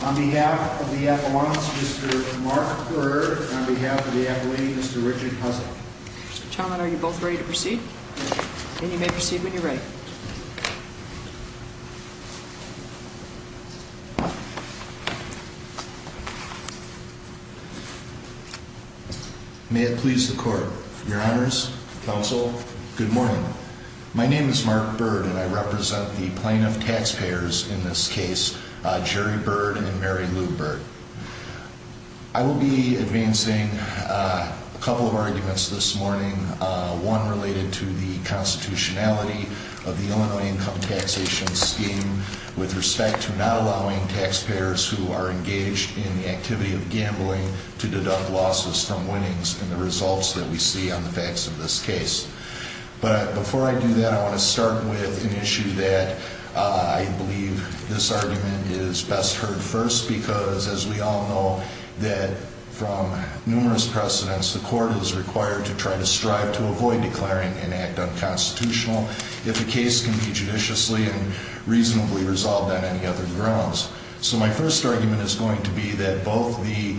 On behalf of the Appellants, Mr. Mark Berger and on behalf of the Appellant, Mr. Richard Hussle. Mr. Chairman, are you both ready to proceed? And you may proceed when you're ready. May it please the Court. Your Honors, Counsel, good morning. My name is Mark Byrd and I represent the plaintiff taxpayers in this case, Jerry Byrd and Mary Lou Byrd. I will be advancing a couple of arguments this morning, one related to the constitutionality of the Illinois Income Taxation Scheme with respect to not allowing taxpayers who are engaged in the activity of gambling to deduct losses from winnings in the results that we see on the facts of this case. But before I do that, I want to start with an issue that I believe this argument is best heard first because, as we all know, that from numerous precedents, the Court is required to try to strive to avoid declaring an act unconstitutional if the case can be judiciously and reasonably resolved on any other grounds. So my first argument is going to be that both the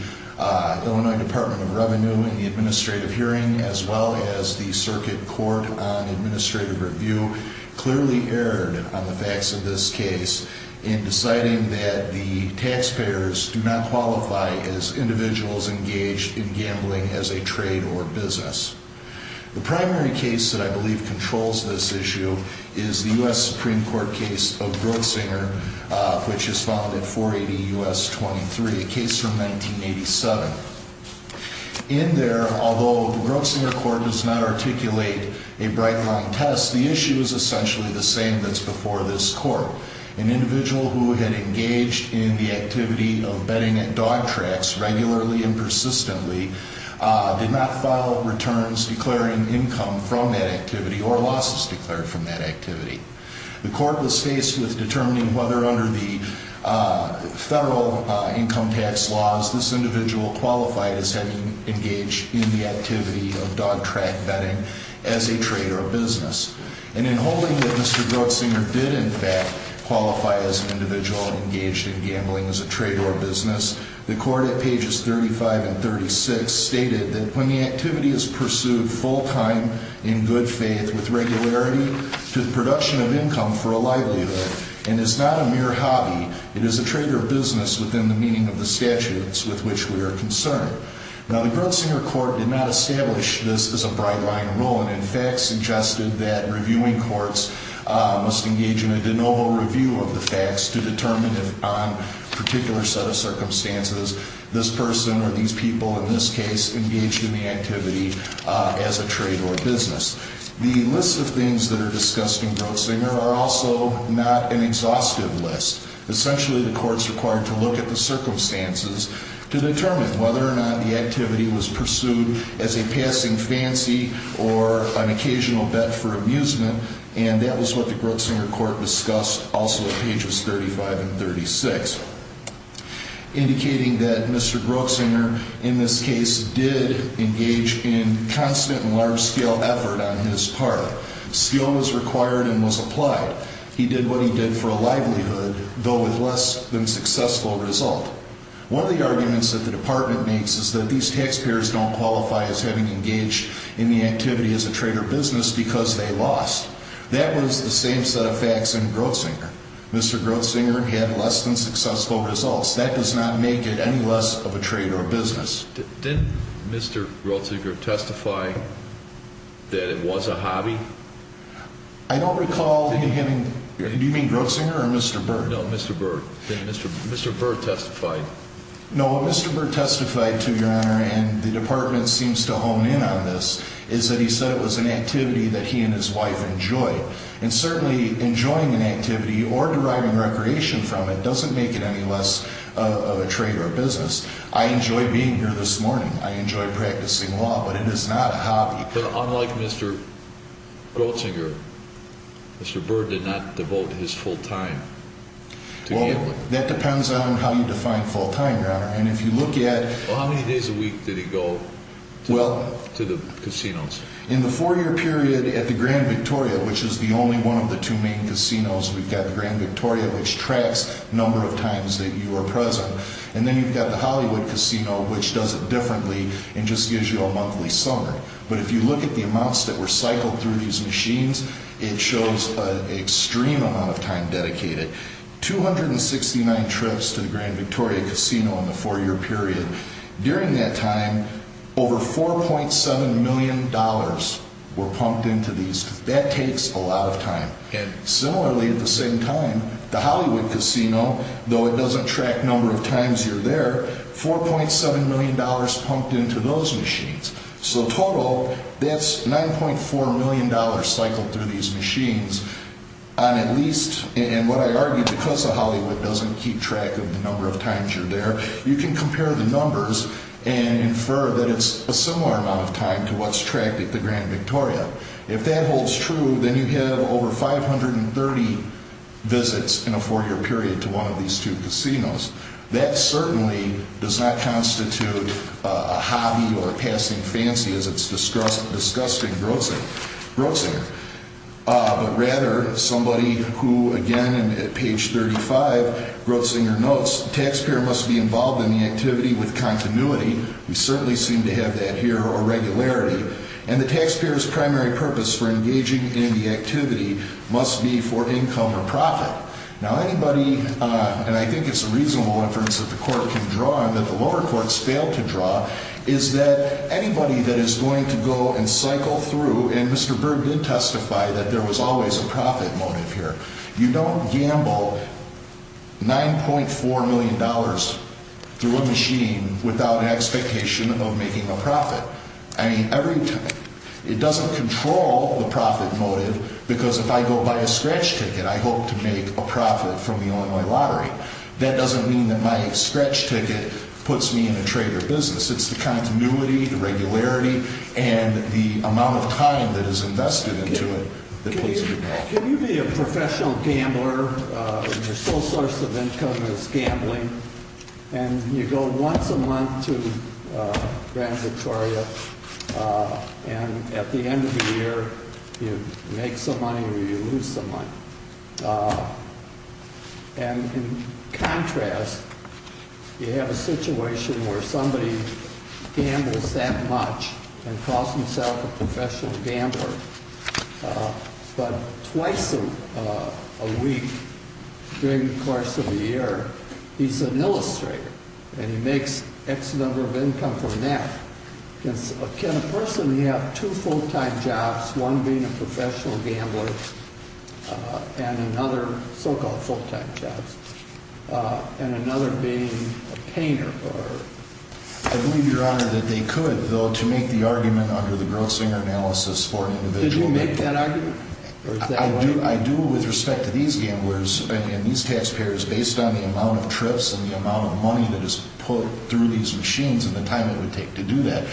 Illinois Department of Revenue in the administrative hearing as well as the Circuit Court on Administrative Review clearly erred on the facts of this case in deciding that the taxpayers do not qualify as individuals engaged in gambling as a trade or business. The primary case that I believe controls this issue is the U.S. Supreme Court case of Grossinger, which is filed at 480 U.S. 23, a case from 1987. In there, although the Grossinger Court does not articulate a bright-line test, the issue is essentially the same that's before this court. An individual who had engaged in the activity of betting at dog tracks regularly and persistently did not file returns declaring income from that activity or losses declared from that activity. The court was faced with determining whether, under the federal income tax laws, this individual qualified as having engaged in the activity of dog track betting as a trade or business. And in holding that Mr. Grossinger did, in fact, qualify as an individual engaged in gambling as a trade or business, the court at pages 35 and 36 stated that when the activity is pursued full-time in good faith with regularity to the production of income for a livelihood and is not a mere hobby, it is a trade or business within the meaning of the statutes with which we are concerned. Now, the Grossinger Court did not establish this as a bright-line rule and, in fact, suggested that reviewing courts must engage in a de novo review of the facts to determine if, on a particular set of circumstances, this person or these people, in this case, engaged in the activity as a trade or business. The lists of things that are discussed in Grossinger are also not an exhaustive list. Essentially, the court is required to look at the circumstances to determine whether or not the activity was pursued as a passing fancy or an occasional bet for amusement, and that was what the Grossinger Court discussed also at pages 35 and 36, indicating that Mr. Grossinger, in this case, did engage in constant and large-scale effort on his part. Skill was required and was applied. He did what he did for a livelihood, though with less than successful result. One of the arguments that the Department makes is that these taxpayers don't qualify as having engaged in the activity as a trade or business because they lost. That was the same set of facts in Grossinger. Mr. Grossinger had less than successful results. That does not make it any less of a trade or business. Didn't Mr. Grossinger testify that it was a hobby? I don't recall him. Do you mean Grossinger or Mr. Burr? No, Mr. Burr. Mr. Burr testified. No, what Mr. Burr testified to, Your Honor, and the Department seems to hone in on this, is that he said it was an activity that he and his wife enjoyed. And certainly enjoying an activity or deriving recreation from it doesn't make it any less of a trade or business. I enjoy being here this morning. I enjoy practicing law, but it is not a hobby. But unlike Mr. Grossinger, Mr. Burr did not devote his full time to gambling. Well, that depends on how you define full time, Your Honor. And if you look at... Well, how many days a week did he go to the casinos? In the four-year period at the Grand Victoria, which is the only one of the two main casinos, we've got the Grand Victoria, which tracks the number of times that you are present. And then you've got the Hollywood Casino, which does it differently and just gives you a monthly summary. But if you look at the amounts that were cycled through these machines, it shows an extreme amount of time dedicated. 269 trips to the Grand Victoria Casino in the four-year period. During that time, over $4.7 million were pumped into these. That takes a lot of time. And similarly, at the same time, the Hollywood Casino, though it doesn't track number of times you're there, $4.7 million pumped into those machines. So total, that's $9.4 million cycled through these machines on at least... And what I argue, because the Hollywood doesn't keep track of the number of times you're there, you can compare the numbers and infer that it's a similar amount of time to what's tracked at the Grand Victoria. If that holds true, then you have over 530 visits in a four-year period to one of these two casinos. That certainly does not constitute a hobby or a passing fancy, as it's discussed in Grotzinger. But rather, somebody who, again, at page 35, Grotzinger notes, taxpayer must be involved in the activity with continuity. We certainly seem to have that here, or regularity. And the taxpayer's primary purpose for engaging in the activity must be for income or profit. Now, anybody, and I think it's a reasonable inference that the Court can draw and that the lower courts fail to draw, is that anybody that is going to go and cycle through... And Mr. Berg did testify that there was always a profit motive here. You don't gamble $9.4 million through a machine without an expectation of making a profit. It doesn't control the profit motive, because if I go buy a scratch ticket, I hope to make a profit from the Illinois lottery. That doesn't mean that my scratch ticket puts me in a trader business. It's the continuity, the regularity, and the amount of time that is invested into it that plays a big role. Can you be a professional gambler, and your sole source of income is gambling, and you go once a month to Grand Victoria, and at the end of the year, you make some money or you lose some money? And in contrast, you have a situation where somebody gambles that much and calls himself a professional gambler. But twice a week during the course of a year, he's an illustrator, and he makes X number of income from that. Can a person have two full-time jobs, one being a professional gambler and another, so-called full-time jobs, and another being a painter? I believe, Your Honor, that they could, though, to make the argument under the Grosslinger analysis for an individual. Did you make that argument? I do, with respect to these gamblers and these taxpayers, based on the amount of trips and the amount of money that is put through these machines and the time it would take to do that.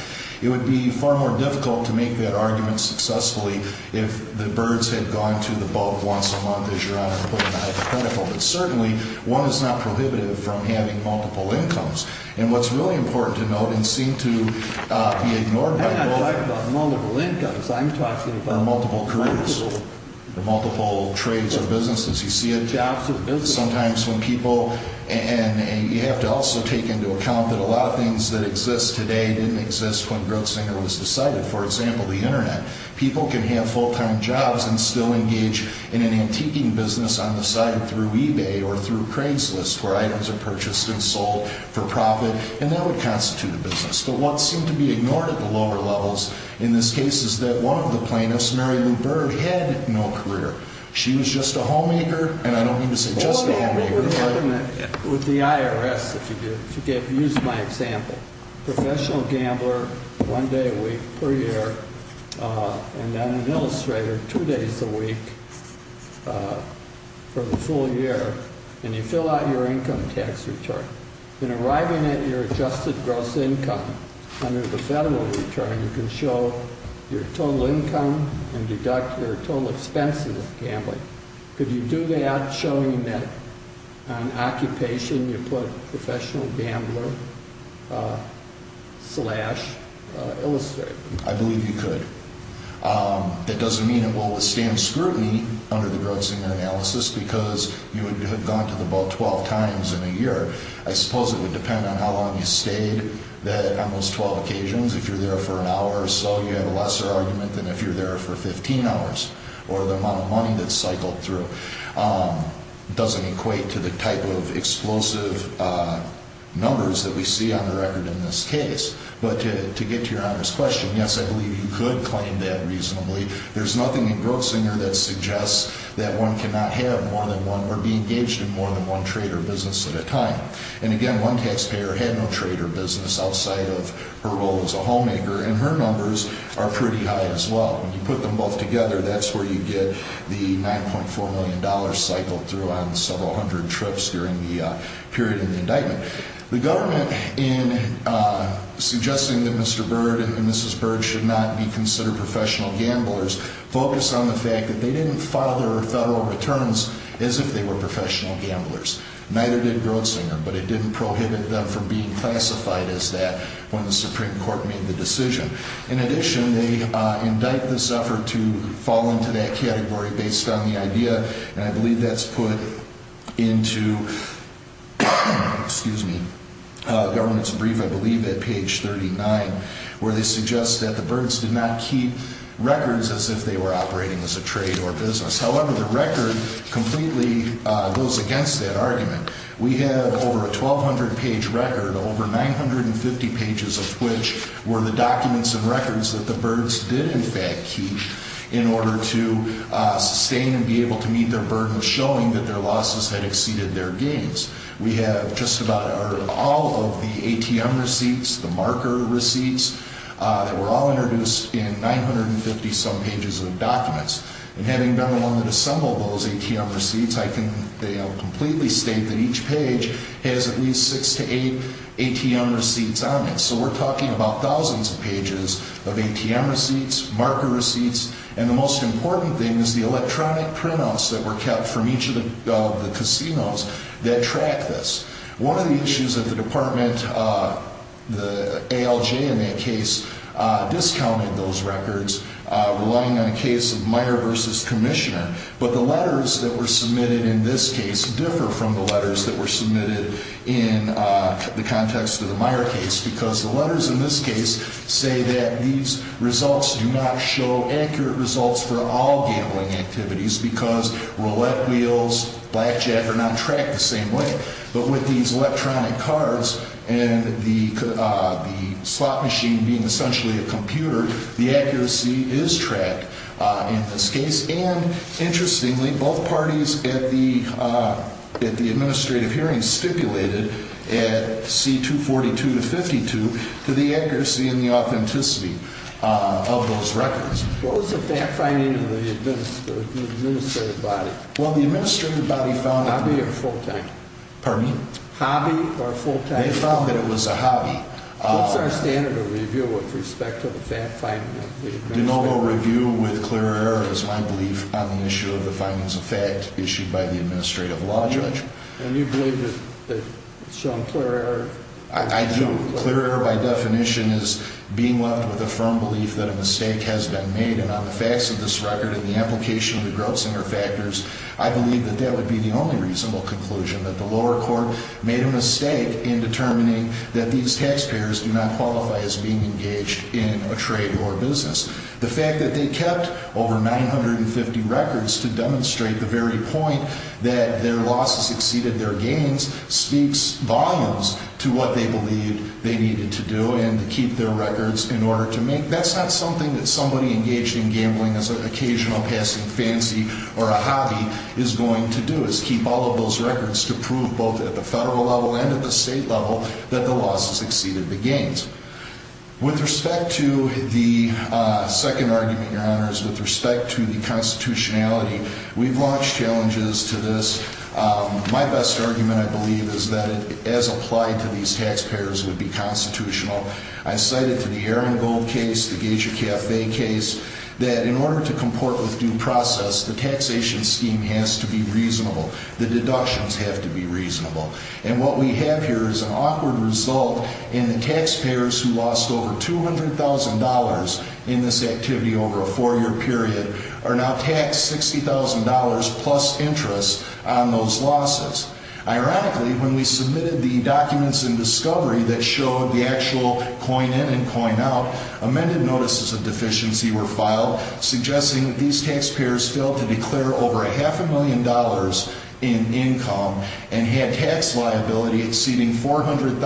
It would be far more difficult to make that argument successfully if the birds had gone to the boat once a month, as Your Honor put it in the Hyde Protocol. But certainly, one is not prohibitive from having multiple incomes. And what's really important to note, and seemed to be ignored by both— I'm not talking about multiple incomes. I'm talking about— —or multiple careers, or multiple trades or businesses. You see it? Jobs or businesses. Sometimes when people—and you have to also take into account that a lot of things that exist today didn't exist when Grosslinger was decided. For example, the Internet. People can have full-time jobs and still engage in an antiquing business on the side through eBay or through Craigslist, where items are purchased and sold for profit, and that would constitute a business. But what seemed to be ignored at the lower levels in this case is that one of the plaintiffs, Mary Lou Bird, had no career. She was just a homemaker, and I don't mean to say just a homemaker. With the IRS, if you use my example, professional gambler, one day a week per year, and then an illustrator, two days a week for the full year, and you fill out your income tax return. In arriving at your adjusted gross income under the federal return, you can show your total income and deduct your total expenses gambling. Could you do that showing that on occupation you put professional gambler slash illustrator? I believe you could. It doesn't mean it will withstand scrutiny under the Grosslinger analysis because you would have gone to the boat 12 times in a year. I suppose it would depend on how long you stayed on those 12 occasions. If you're there for an hour or so, you have a lesser argument than if you're there for 15 hours or the amount of money that's cycled through. It doesn't equate to the type of explosive numbers that we see on the record in this case. But to get to your honest question, yes, I believe you could claim that reasonably. There's nothing in Grosslinger that suggests that one cannot have more than one or be engaged in more than one trade or business at a time. And again, one taxpayer had no trade or business outside of her role as a homemaker, and her numbers are pretty high as well. When you put them both together, that's where you get the $9.4 million cycled through on several hundred trips during the period of the indictment. The government, in suggesting that Mr. Byrd and Mrs. Byrd should not be considered professional gamblers, focused on the fact that they didn't file their federal returns as if they were professional gamblers. Neither did Grosslinger, but it didn't prohibit them from being classified as that when the Supreme Court made the decision. In addition, they indict this effort to fall into that category based on the idea, and I believe that's put into a government's brief, I believe, at page 39, where they suggest that the Byrds did not keep records as if they were operating as a trade or business. However, the record completely goes against that argument. We have over a 1,200-page record, over 950 pages of which were the documents and records that the Byrds did in fact keep in order to sustain and be able to meet their burden, showing that their losses had exceeded their gains. We have just about all of the ATM receipts, the marker receipts, that were all introduced in 950-some pages of documents. And having been the one that assembled those ATM receipts, I can completely state that each page has at least six to eight ATM receipts on it. So we're talking about thousands of pages of ATM receipts, marker receipts, and the most important thing is the electronic printouts that were kept from each of the casinos that track this. One of the issues that the department, the ALJ in that case, discounted those records, relying on a case of Meyer versus Commissioner. But the letters that were submitted in this case differ from the letters that were submitted in the context of the Meyer case, because the letters in this case say that these results do not show accurate results for all gambling activities because roulette wheels, blackjack are not tracked the same way. But with these electronic cards and the slot machine being essentially a computer, the accuracy is tracked in this case. And interestingly, both parties at the administrative hearing stipulated at C-242-52 to the accuracy and the authenticity of those records. What was the fact finding of the administrative body? Well, the administrative body found... Hobby or full time? Pardon me? Hobby or full time? They found that it was a hobby. What's our standard of review with respect to the fact finding of the administrative body? De novo review with clear error is my belief on the issue of the findings of fact issued by the administrative law judge. And you believe that it's shown clear error? I do. Clear error, by definition, is being left with a firm belief that a mistake has been made. And on the facts of this record and the application of the Grubzinger factors, I believe that that would be the only reasonable conclusion, that the lower court made a mistake in determining that these taxpayers do not qualify as being engaged in a trade or a business. The fact that they kept over 950 records to demonstrate the very point that their losses exceeded their gains speaks volumes to what they believed they needed to do and to keep their records in order to make... That's not something that somebody engaged in gambling as an occasional passing fancy or a hobby is going to do, is keep all of those records to prove both at the federal level and at the state level that the losses exceeded the gains. With respect to the second argument, Your Honors, with respect to the constitutionality, we've launched challenges to this. My best argument, I believe, is that it, as applied to these taxpayers, would be constitutional. I cited to the Aaron Gold case, the Geisha Cafe case, that in order to comport with due process, the taxation scheme has to be reasonable. The deductions have to be reasonable. And what we have here is an awkward result in the taxpayers who lost over $200,000 in this activity over a four-year period are now taxed $60,000 plus interest on those losses. Ironically, when we submitted the documents in discovery that showed the actual coin-in and coin-out, amended notices of deficiency were filed suggesting these taxpayers failed to declare over a half a million dollars in income and had tax liability exceeding $400,000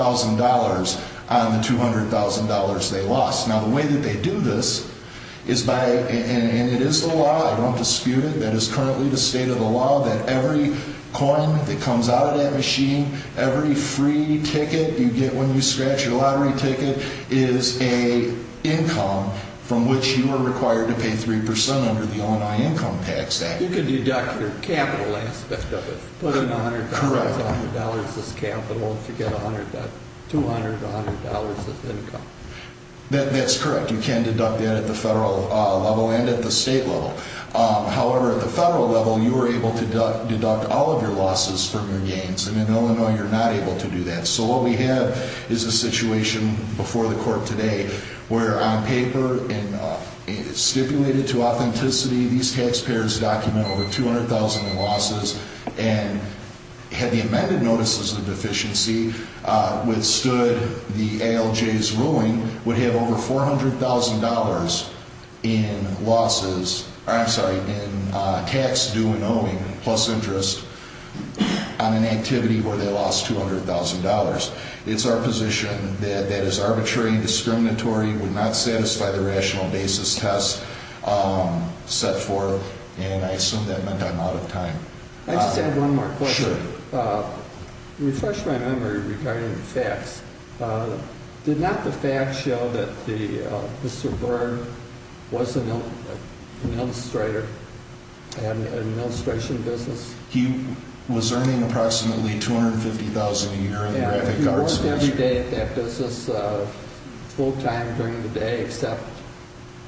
on the $200,000 they lost. Now, the way that they do this is by... and it is the law, I don't dispute it, that is currently the state of the law that every coin that comes out of that machine, every free ticket you get when you scratch your lottery ticket is an income from which you are required to pay 3% under the Illinois Income Tax Act. You can deduct your capital aspect of it. Put in $100, $100 as capital to get $200, $100 as income. That's correct. You can deduct that at the federal level and at the state level. However, at the federal level, you are able to deduct all of your losses from your gains. And in Illinois, you're not able to do that. So what we have is a situation before the court today where on paper and stipulated to authenticity, these taxpayers document over $200,000 in losses and had the amended notices of deficiency withstood the ALJ's ruling, would have over $400,000 in losses... I'm sorry, in tax due and owing plus interest on an activity where they lost $200,000. It's our position that that is arbitrary, discriminatory, would not satisfy the rational basis test set forth, and I assume that meant I'm out of time. Sure. Let me refresh my memory regarding the facts. Did not the facts show that Mr. Byrne was an illustrator and had an illustration business? He was earning approximately $250,000 a year in graphic arts. Yeah, he worked every day at that business, full time during the day, except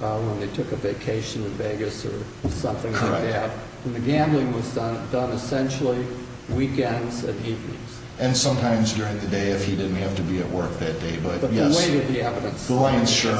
when they took a vacation to Vegas or something like that. And the gambling was done essentially weekends and evenings. And sometimes during the day if he didn't have to be at work that day, but yes. But the weight of the evidence... The line is short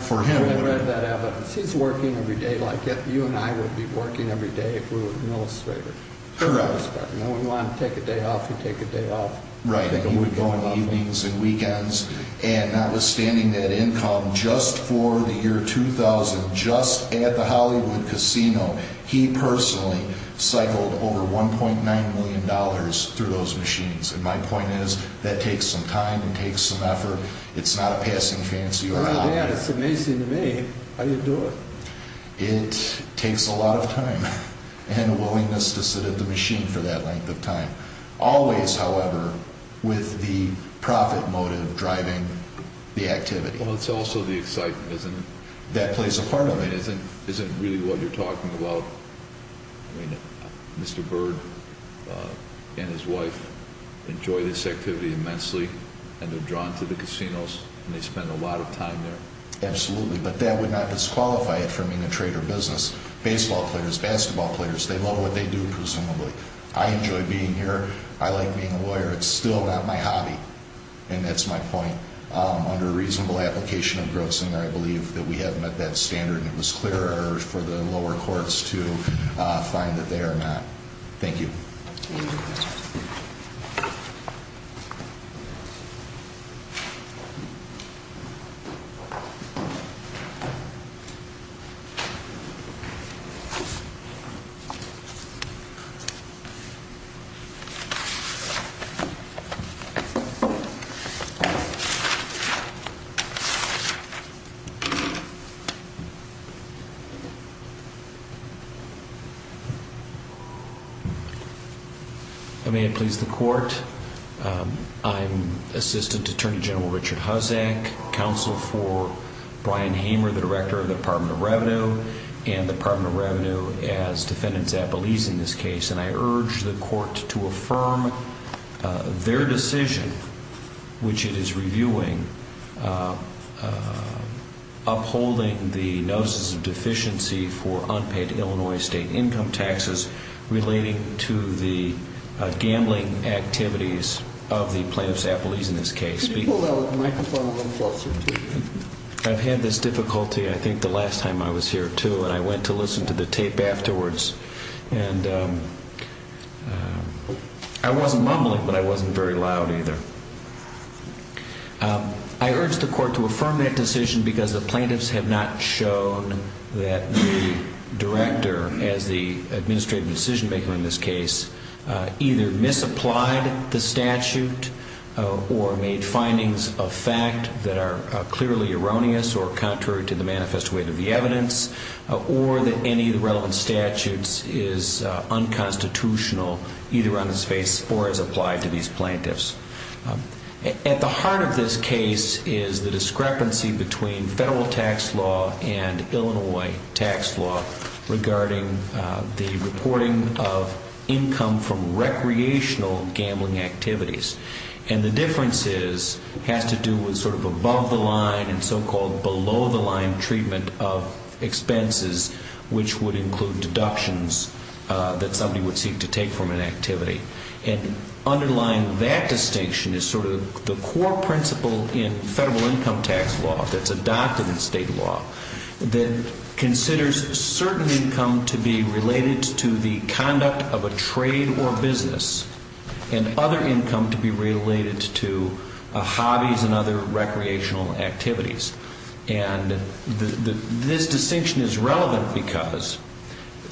for him. I read that evidence. He's working every day like you and I would be working every day if we were an illustrator. Correct. You know, we want to take a day off, we take a day off. Right, and he would go on evenings and weekends, and notwithstanding that income, just for the year 2000, just at the Hollywood Casino, he personally cycled over $1.9 million through those machines. And my point is, that takes some time and takes some effort. It's not a passing fancy or a hobby. It's amazing to me how you do it. It takes a lot of time and a willingness to sit at the machine for that length of time. Always, however, with the profit motive driving the activity. Well, it's also the excitement, isn't it? That plays a part of it. I mean, is it really what you're talking about? I mean, Mr. Bird and his wife enjoy this activity immensely, and they're drawn to the casinos, and they spend a lot of time there. Absolutely, but that would not disqualify it from being a trade or business. Baseball players, basketball players, they love what they do, presumably. I enjoy being here. I like being a lawyer. It's still not my hobby, and that's my point. Under a reasonable application of grossing, I believe that we have met that standard, and it was clear for the lower courts to find that they are not. Thank you. Thank you. May it please the court. I'm Assistant Attorney General Richard Huzzack, counsel for Brian Hamer, the director of the Department of Revenue, and the Department of Revenue as Defendant Zappolese in this case, and I urge the court to affirm their decision, which it is reviewing, upholding the notices of deficiency for unpaid Illinois state income taxes relating to the gambling activities of the plaintiff, Zappolese, in this case. Could you pull out the microphone a little closer, please? I've had this difficulty, I think, the last time I was here, too, and I went to listen to the tape afterwards, and I wasn't mumbling, but I wasn't very loud either. I urge the court to affirm that decision because the plaintiffs have not shown that the director, as the administrative decision-maker in this case, either misapplied the statute or made findings of fact that are clearly erroneous or contrary to the manifest weight of the evidence or that any of the relevant statutes is unconstitutional either on its face or as applied to these plaintiffs. At the heart of this case is the discrepancy between federal tax law and Illinois tax law regarding the reporting of income from recreational gambling activities, and the difference is it has to do with sort of above-the-line and so-called below-the-line treatment of expenses, which would include deductions that somebody would seek to take from an activity. And underlying that distinction is sort of the core principle in federal income tax law that's adopted in state law that considers certain income to be related to the conduct of a trade or business and other income to be related to hobbies and other recreational activities. And this distinction is relevant because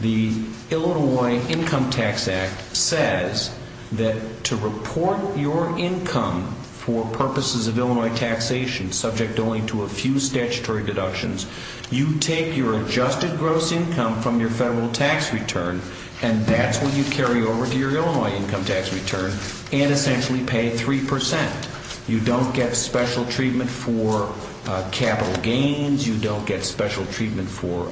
the Illinois Income Tax Act says that to report your income for purposes of Illinois taxation subject only to a few statutory deductions, you take your adjusted gross income from your federal tax return and that's what you carry over to your Illinois income tax return and essentially pay 3%. You don't get special treatment for capital gains. You don't get special treatment for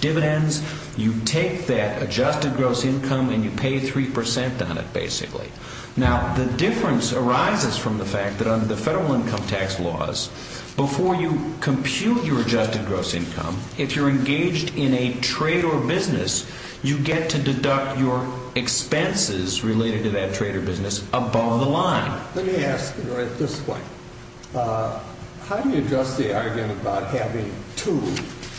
dividends. You take that adjusted gross income and you pay 3% on it, basically. Now, the difference arises from the fact that under the federal income tax laws, before you compute your adjusted gross income, if you're engaged in a trade or business, you get to deduct your expenses related to that trade or business above the line. Let me ask, right at this point, how do you address the argument about having two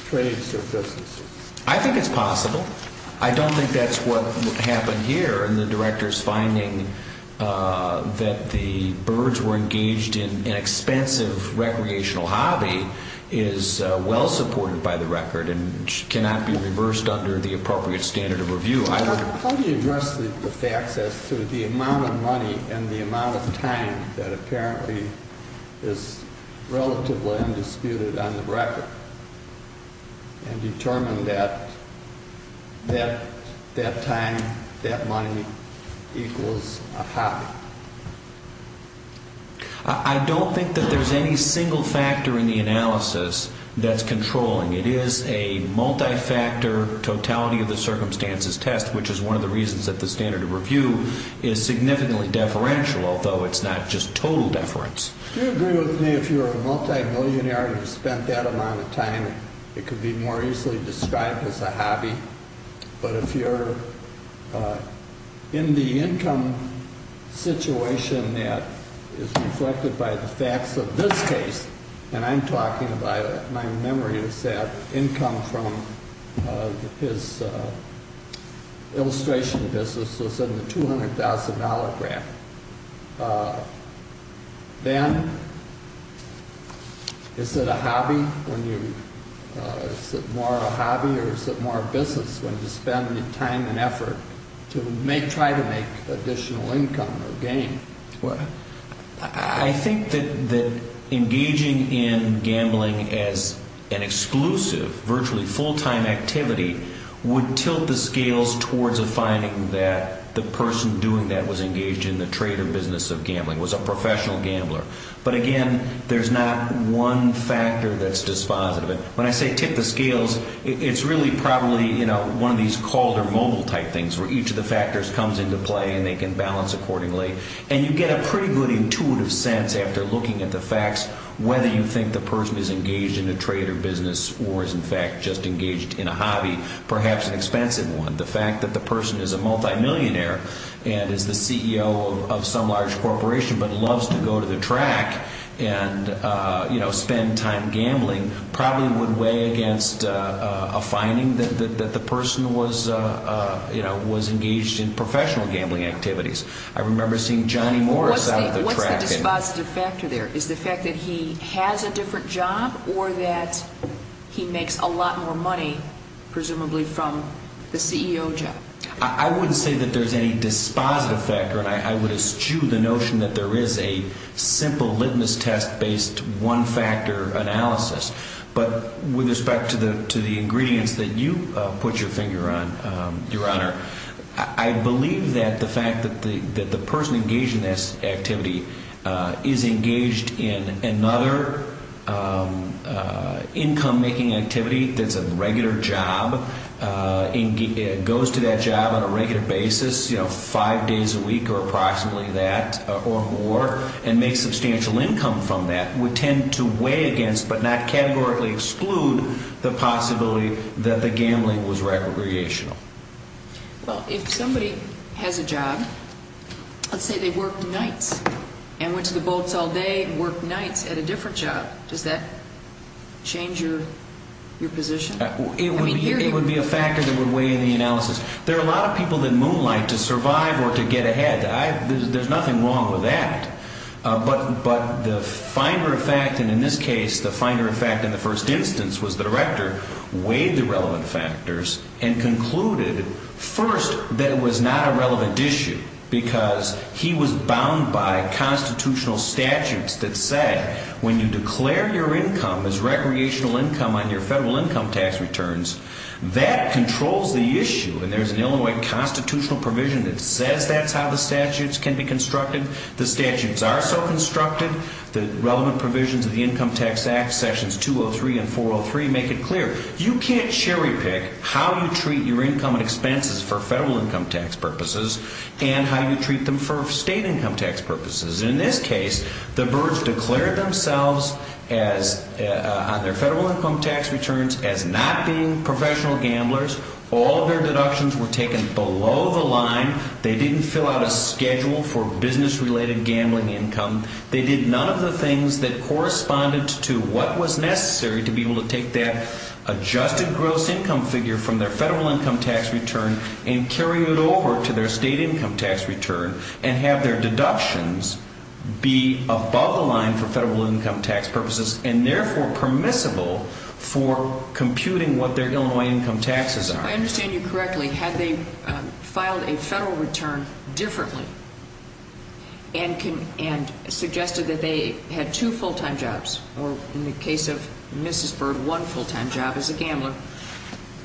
trades or businesses? I think it's possible. I don't think that's what happened here in the director's finding that the birds were engaged in an expensive recreational hobby is well supported by the record and cannot be reversed under the appropriate standard of review either. How do you address the facts as to the amount of money and the amount of time that apparently is relatively undisputed on the record and determine that that time, that money equals a hobby? I don't think that there's any single factor in the analysis that's controlling. It is a multi-factor totality of the circumstances test, which is one of the reasons that the standard of review is significantly deferential, although it's not just total deference. Do you agree with me if you're a multimillionaire and you've spent that amount of time, it could be more easily described as a hobby, but if you're in the income situation that is reflected by the facts of this case, and I'm talking about, my memory is that income from his illustration business was in the $200,000 graph, then is it a hobby when you, is it more a hobby or is it more a business when you spend the time and effort to try to make additional income or gain? I think that engaging in gambling as an exclusive, virtually full-time activity would tilt the scales towards a finding that the person doing that was engaged in the trade or business of gambling, was a professional gambler. But again, there's not one factor that's dispositive. When I say tip the scales, it's really probably one of these called or mobile type things where each of the factors comes into play and they can balance accordingly, and you get a pretty good intuitive sense after looking at the facts whether you think the person is engaged in a trade or business or is in fact just engaged in a hobby, perhaps an expensive one. The fact that the person is a multimillionaire and is the CEO of some large corporation but loves to go to the track and spend time gambling probably would weigh against a finding that the person was engaged in professional gambling activities. I remember seeing Johnny Morris out at the track. What's the dispositive factor there? Is the fact that he has a different job or that he makes a lot more money, presumably, from the CEO job? I wouldn't say that there's any dispositive factor, and I would eschew the notion that there is a simple litmus test-based one-factor analysis. But with respect to the ingredients that you put your finger on, Your Honor, I believe that the fact that the person engaged in this activity is engaged in another income-making activity that's a regular job, goes to that job on a regular basis, five days a week or approximately that or more, and makes substantial income from that would tend to weigh against but not categorically exclude the possibility that the gambling was recreational. Well, if somebody has a job, let's say they worked nights and went to the boats all day and worked nights at a different job, does that change your position? It would be a factor that would weigh in the analysis. There are a lot of people that moonlight to survive or to get ahead. There's nothing wrong with that. But the finder of fact, and in this case the finder of fact in the first instance was the director, weighed the relevant factors and concluded, first, that it was not a relevant issue because he was bound by constitutional statutes that said, when you declare your income as recreational income on your federal income tax returns, that controls the issue. And there's an Illinois constitutional provision that says that's how the statutes can be constructed. The statutes are so constructed. The relevant provisions of the Income Tax Act, sections 203 and 403, make it clear. You can't cherry pick how you treat your income and expenses for federal income tax purposes and how you treat them for state income tax purposes. In this case, the Byrds declared themselves on their federal income tax returns as not being professional gamblers. All of their deductions were taken below the line. They didn't fill out a schedule for business-related gambling income. They did none of the things that corresponded to what was necessary to be able to take that adjusted gross income figure from their federal income tax return and carry it over to their state income tax return and have their deductions be above the line for federal income tax purposes and therefore permissible for computing what their Illinois income taxes are. If I understand you correctly, had they filed a federal return differently and suggested that they had two full-time jobs, or in the case of Mrs. Byrd, one full-time job as a gambler,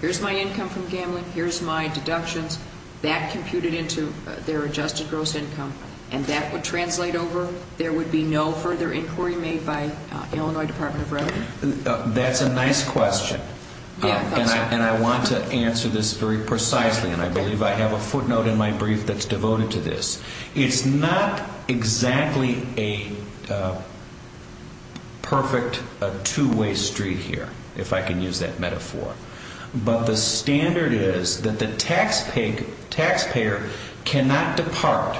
here's my income from gambling, here's my deductions, that computed into their adjusted gross income, and that would translate over, there would be no further inquiry made by Illinois Department of Revenue? That's a nice question. And I want to answer this very precisely, and I believe I have a footnote in my brief that's devoted to this. It's not exactly a perfect two-way street here, if I can use that metaphor, but the standard is that the taxpayer cannot depart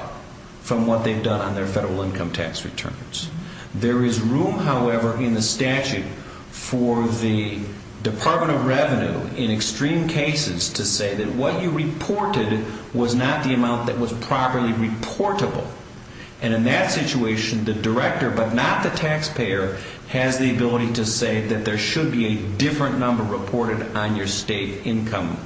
from what they've done on their federal income tax returns. There is room, however, in the statute for the Department of Revenue, in extreme cases, to say that what you reported was not the amount that was properly reportable. And in that situation, the director, but not the taxpayer, has the ability to say that there should be a different number reported on your state income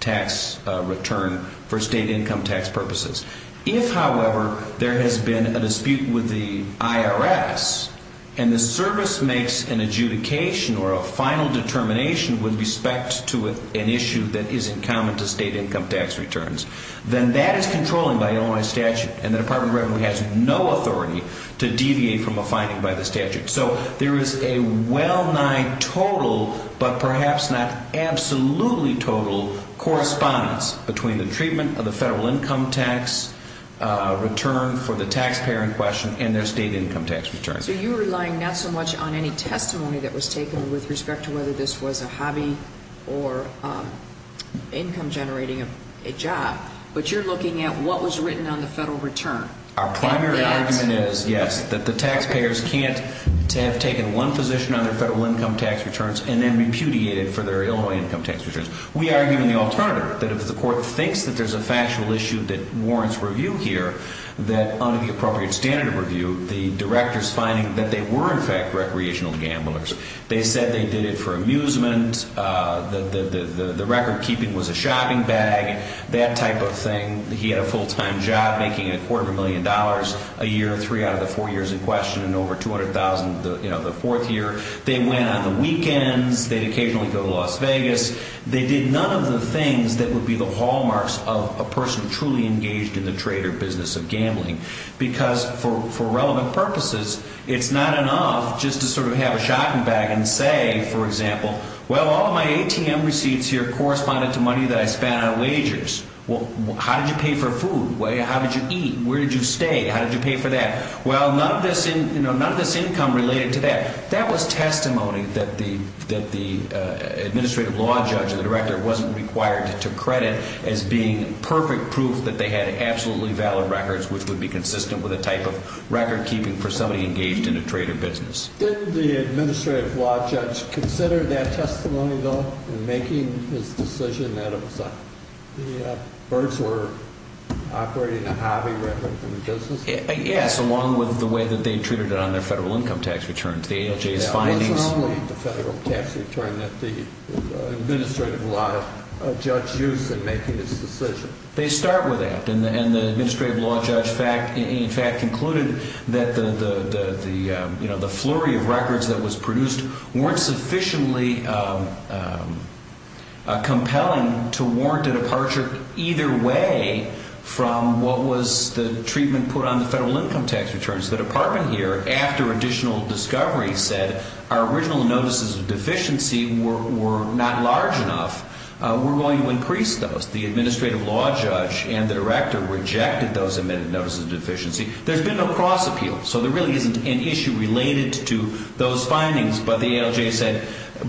tax return for state income tax purposes. If, however, there has been a dispute with the IRS, and the service makes an adjudication or a final determination with respect to an issue that isn't common to state income tax returns, then that is controlling by Illinois statute, and the Department of Revenue has no authority to deviate from a finding by the statute. So there is a well-nigh total, but perhaps not absolutely total, correspondence between the treatment of the federal income tax return for the taxpayer in question and their state income tax returns. So you're relying not so much on any testimony that was taken with respect to whether this was a hobby or income-generating job, but you're looking at what was written on the federal return. Our primary argument is, yes, that the taxpayers can't have taken one position on their federal income tax returns and then repudiated for their Illinois income tax returns. We argue in the alternative that if the court thinks that there's a factual issue that warrants review here, that under the appropriate standard of review, the director's finding that they were, in fact, recreational gamblers. They said they did it for amusement, the record-keeping was a shopping bag, that type of thing. He had a full-time job making a quarter of a million dollars a year, three out of the four years in question, and over $200,000 the fourth year. They went on the weekends. They'd occasionally go to Las Vegas. They did none of the things that would be the hallmarks of a person truly engaged in the trade or business of gambling because, for relevant purposes, it's not enough just to sort of have a shopping bag and say, for example, well, all my ATM receipts here corresponded to money that I spent on wagers. How did you pay for food? How did you eat? Where did you stay? How did you pay for that? Well, none of this income related to that. That was testimony that the administrative law judge or the director wasn't required to credit as being perfect proof that they had absolutely valid records, which would be consistent with the type of record-keeping for somebody engaged in a trade or business. Didn't the administrative law judge consider that testimony, though, in making his decision that it was the birds were operating a hobby record in the business? Yes, along with the way that they treated it on their federal income tax returns. That wasn't only the federal tax return that the administrative law judge used in making his decision. They start with that, and the administrative law judge, in fact, concluded that the flurry of records that was produced weren't sufficiently compelling to warrant a departure either way from what was the treatment put on the federal income tax returns. The department here, after additional discovery, said our original notices of deficiency were not large enough. We're willing to increase those. The administrative law judge and the director rejected those admitted notices of deficiency. There's been no cross-appeal, so there really isn't an issue related to those findings, but the ALJ said,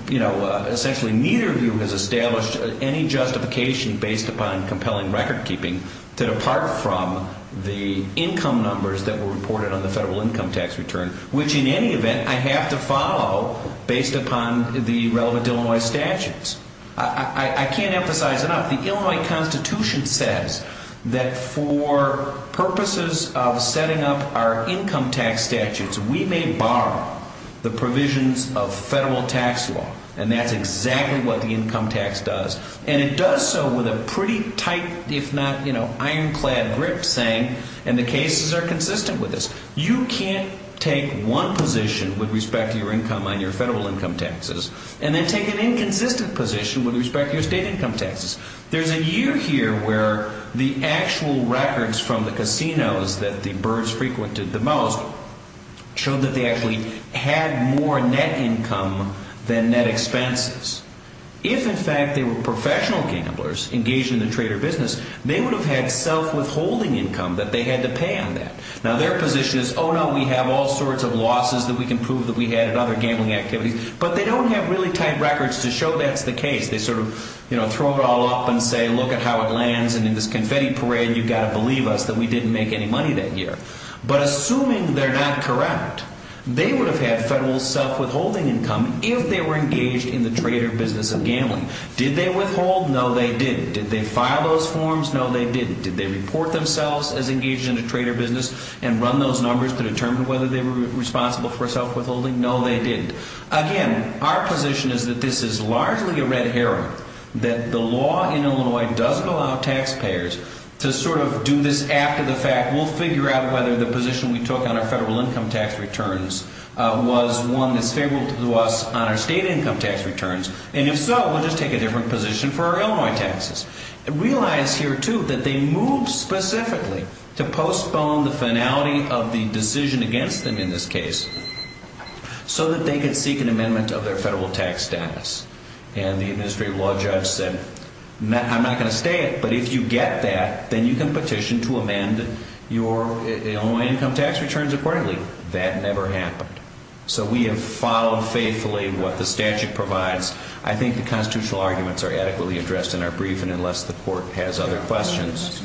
you know, essentially neither of you has established any justification based upon compelling record-keeping to depart from the income numbers that were reported on the federal income tax return, which, in any event, I have to follow based upon the relevant Illinois statutes. I can't emphasize enough, the Illinois Constitution says that for purposes of setting up our income tax statutes, we may bar the provisions of federal tax law, and that's exactly what the income tax does. And it does so with a pretty tight, if not, you know, ironclad grip saying, and the cases are consistent with this, you can't take one position with respect to your income on your federal income taxes and then take an inconsistent position with respect to your state income taxes. There's a year here where the actual records from the casinos that the Byrds frequented the most showed that they actually had more net income than net expenses. If, in fact, they were professional gamblers engaged in the trader business, they would have had self-withholding income that they had to pay on that. Now, their position is, oh, no, we have all sorts of losses that we can prove that we had at other gambling activities, but they don't have really tight records to show that's the case. They sort of, you know, throw it all up and say, look at how it lands, and in this confetti parade, you've got to believe us that we didn't make any money that year. But assuming they're not correct, they would have had federal self-withholding income if they were engaged in the trader business of gambling. Did they withhold? No, they didn't. Did they file those forms? No, they didn't. Did they report themselves as engaged in the trader business and run those numbers to determine whether they were responsible for self-withholding? No, they didn't. Again, our position is that this is largely a red herring, that the law in Illinois doesn't allow taxpayers to sort of do this after the fact. We'll figure out whether the position we took on our federal income tax returns was one that's favorable to us on our state income tax returns, and if so, we'll just take a different position for our Illinois taxes. And realize here, too, that they moved specifically to postpone the finality of the decision against them in this case so that they could seek an amendment of their federal tax status. And the administrative law judge said, I'm not going to say it, but if you get that, then you can petition to amend your Illinois income tax returns accordingly. That never happened. So we have followed faithfully what the statute provides. I think the constitutional arguments are adequately addressed in our briefing, unless the court has other questions.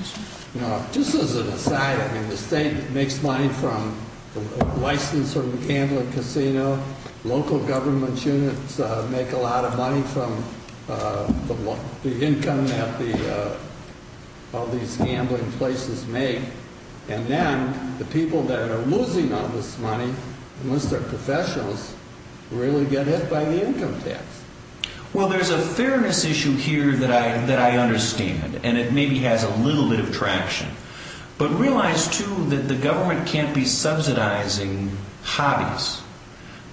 Just as an aside, the state makes money from licensing the gambling casino, local government units make a lot of money from the income that all these gambling places make, and then the people that are losing all this money, most of the professionals, really get hit by the income tax. Well, there's a fairness issue here that I understand, and it maybe has a little bit of traction. But realize, too, that the government can't be subsidizing hobbies.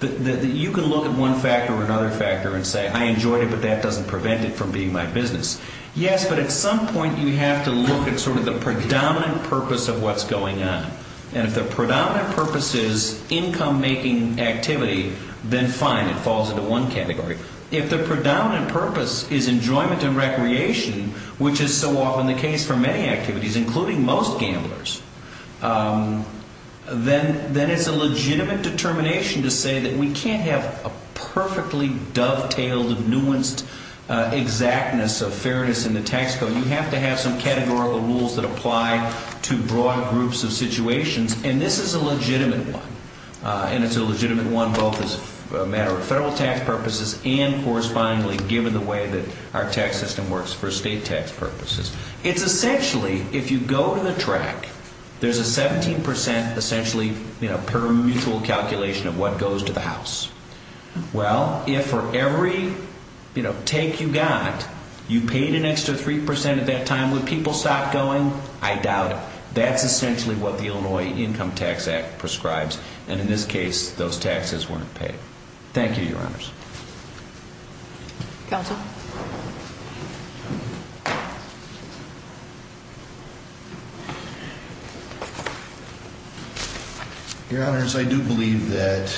You can look at one factor or another factor and say, I enjoyed it, but that doesn't prevent it from being my business. Yes, but at some point you have to look at sort of the predominant purpose of what's going on. And if the predominant purpose is income-making activity, then fine, it falls into one category. If the predominant purpose is enjoyment and recreation, which is so often the case for many activities, including most gamblers, then it's a legitimate determination to say that we can't have a perfectly dovetailed, nuanced exactness of fairness in the tax code. You have to have some categorical rules that apply to broad groups of situations, and this is a legitimate one. And it's a legitimate one both as a matter of federal tax purposes and correspondingly given the way that our tax system works for state tax purposes. It's essentially, if you go to the track, there's a 17% essentially per mutual calculation of what goes to the house. Well, if for every take you got, you paid an extra 3% at that time, would people stop going? I doubt it. That's essentially what the Illinois Income Tax Act prescribes, and in this case, those taxes weren't paid. Thank you, Your Honors. Counsel? Your Honors, I do believe that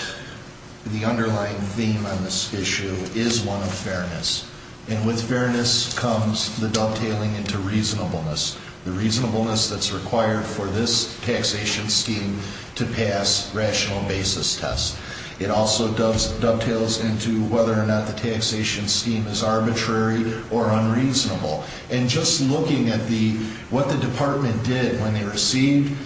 the underlying theme on this issue is one of fairness, and with fairness comes the dovetailing into reasonableness, the reasonableness that's required for this taxation scheme to pass rational basis tests. It also dovetails into whether or not the taxation scheme is arbitrary or unreasonable. And just looking at what the department did when they received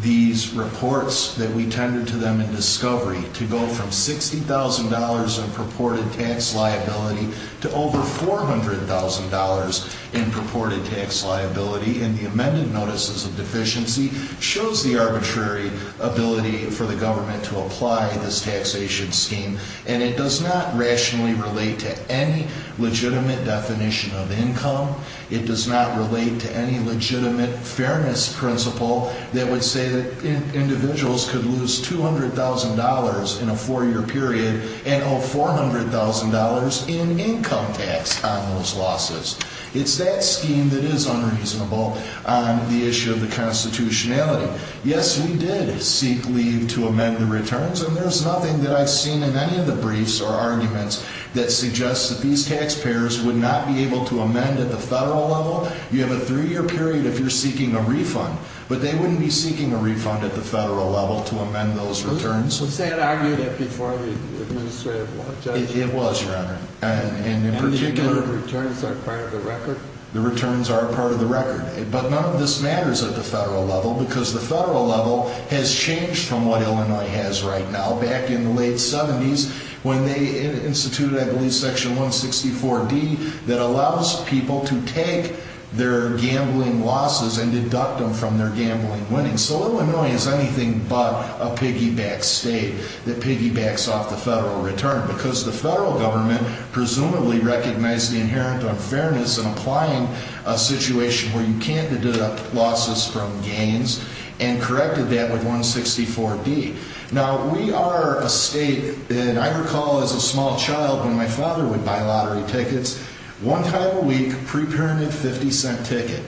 these reports that we tendered to them in discovery to go from $60,000 in purported tax liability to over $400,000 in purported tax liability, and the amended notices of deficiency shows the arbitrary ability for the government to apply this taxation scheme. And it does not rationally relate to any legitimate definition of income. It does not relate to any legitimate fairness principle that would say that individuals could lose $200,000 in a four-year period and owe $400,000 in income tax on those losses. It's that scheme that is unreasonable on the issue of the constitutionality. Yes, we did seek leave to amend the returns, and there's nothing that I've seen in any of the briefs or arguments that suggests that these taxpayers would not be able to amend at the federal level. You have a three-year period if you're seeking a refund, but they wouldn't be seeking a refund at the federal level to amend those returns. Was that argued at before the administrative judge? It was, Your Honor. And the amount of returns are part of the record? The returns are part of the record. But none of this matters at the federal level, because the federal level has changed from what Illinois has right now back in the late 70s when they instituted, I believe, Section 164D that allows people to take their gambling losses and deduct them from their gambling winnings. So Illinois is anything but a piggyback state that piggybacks off the federal return because the federal government presumably recognized the inherent unfairness in applying a situation where you can't deduct losses from gains and corrected that with 164D. Now, we are a state that I recall as a small child when my father would buy lottery tickets one time a week, pre-parented, 50-cent ticket.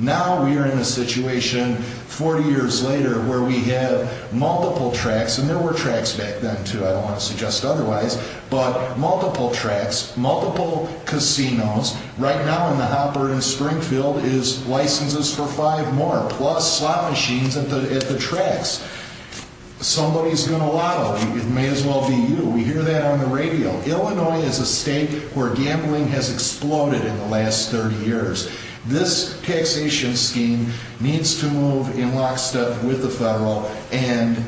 Now we are in a situation 40 years later where we have multiple tracks, and there were tracks back then, too, I don't want to suggest otherwise, but multiple tracks, multiple casinos. Right now in the Hopper in Springfield is licenses for five more, plus slot machines at the tracks. Somebody's going to lotto. It may as well be you. We hear that on the radio. Illinois is a state where gambling has exploded in the last 30 years. This taxation scheme needs to move in lockstep with the federal and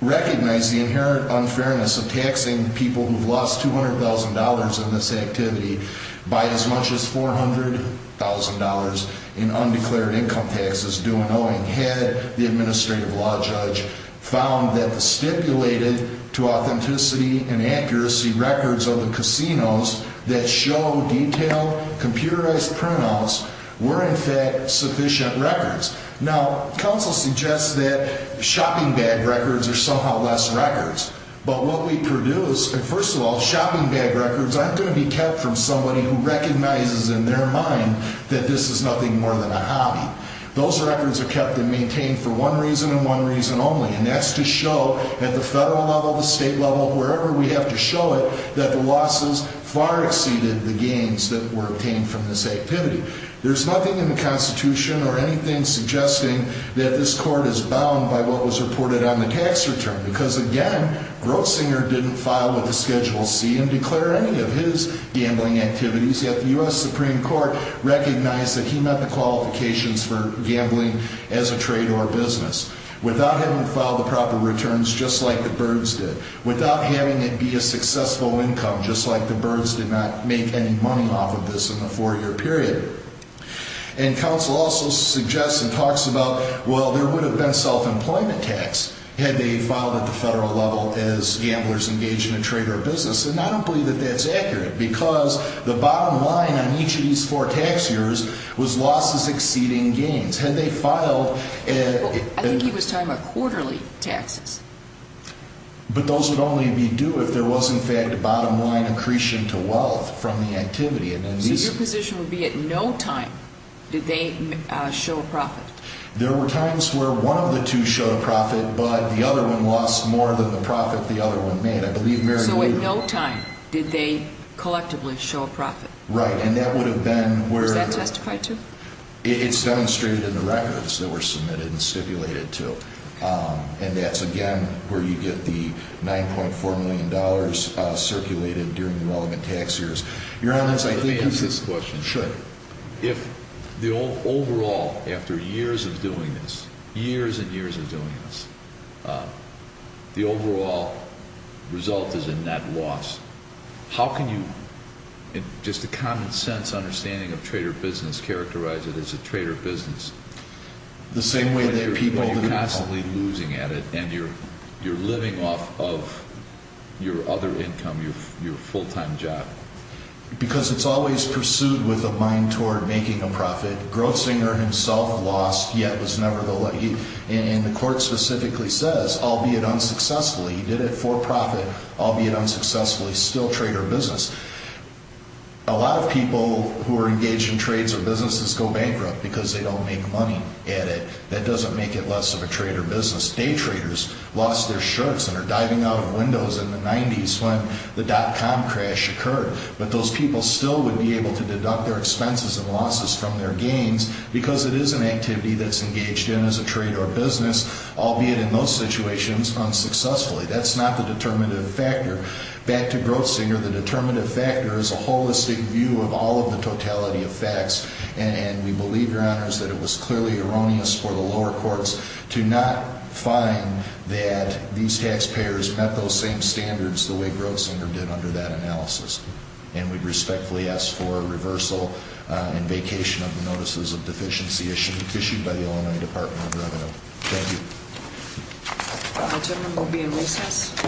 recognize the inherent unfairness of taxing people who have lost $200,000 in this activity by as much as $400,000 in undeclared income taxes due in Owing. Had the administrative law judge found that the stipulated to authenticity and accuracy records of the casinos that show detailed, computerized printouts were in fact sufficient records. Now, counsel suggests that shopping bag records are somehow less records, but what we produce, first of all, shopping bag records aren't going to be kept from somebody who recognizes in their mind that this is nothing more than a hobby. Those records are kept and maintained for one reason and one reason only, and that's to show at the federal level, the state level, wherever we have to show it, that the losses far exceeded the gains that were obtained from this activity. There's nothing in the Constitution or anything suggesting that this court is bound by what was reported on the tax return because, again, Grossinger didn't file with the Schedule C and declare any of his gambling activities, yet the U.S. Supreme Court recognized that he met the qualifications for gambling as a trade or business. Without having filed the proper returns just like the Byrds did, without having it be a successful income just like the Byrds did not make any money off of this in the four-year period. And counsel also suggests and talks about, well, there would have been self-employment tax had they filed at the federal level as gamblers engaged in a trade or business, and I don't believe that that's accurate because the bottom line on each of these four tax years was losses exceeding gains. Had they filed at... I think he was talking about quarterly taxes. But those would only be due if there was, in fact, bottom-line accretion to wealth from the activity. So your position would be at no time did they show a profit? There were times where one of the two showed a profit, but the other one lost more than the profit the other one made. So at no time did they collectively show a profit? Right, and that would have been where... Was that testified to? It's demonstrated in the records that were submitted and stipulated to. And that's, again, where you get the $9.4 million circulated during the relevant tax years. Your Honor, let me ask this question. Sure. If the overall, after years of doing this, years and years of doing this, the overall result is a net loss, how can you, in just a common-sense understanding of trade or business, characterize it as a trade or business? The same way that people... But you're constantly losing at it, and you're living off of your other income, your full-time job. Because it's always pursued with a mind toward making a profit. Grossinger himself lost, yet was never the lucky. And the court specifically says, albeit unsuccessfully, he did it for profit, albeit unsuccessfully, still trade or business. A lot of people who are engaged in trades or businesses go bankrupt because they don't make money at it. That doesn't make it less of a trade or business. Day traders lost their shirts and are diving out of windows in the 90s when the dot-com crash occurred. But those people still would be able to deduct their expenses and losses from their gains because it is an activity that's engaged in as a trade or business, albeit in most situations, unsuccessfully. That's not the determinative factor. Back to Grossinger, the determinative factor is a holistic view of all of the totality of facts. And we believe, Your Honors, that it was clearly erroneous for the lower courts to not find that these taxpayers met those same standards the way Grossinger did under that analysis. And we respectfully ask for reversal and vacation of the notices of deficiency issued by the Illinois Department of Revenue. Thank you. The adjournment will be in recess.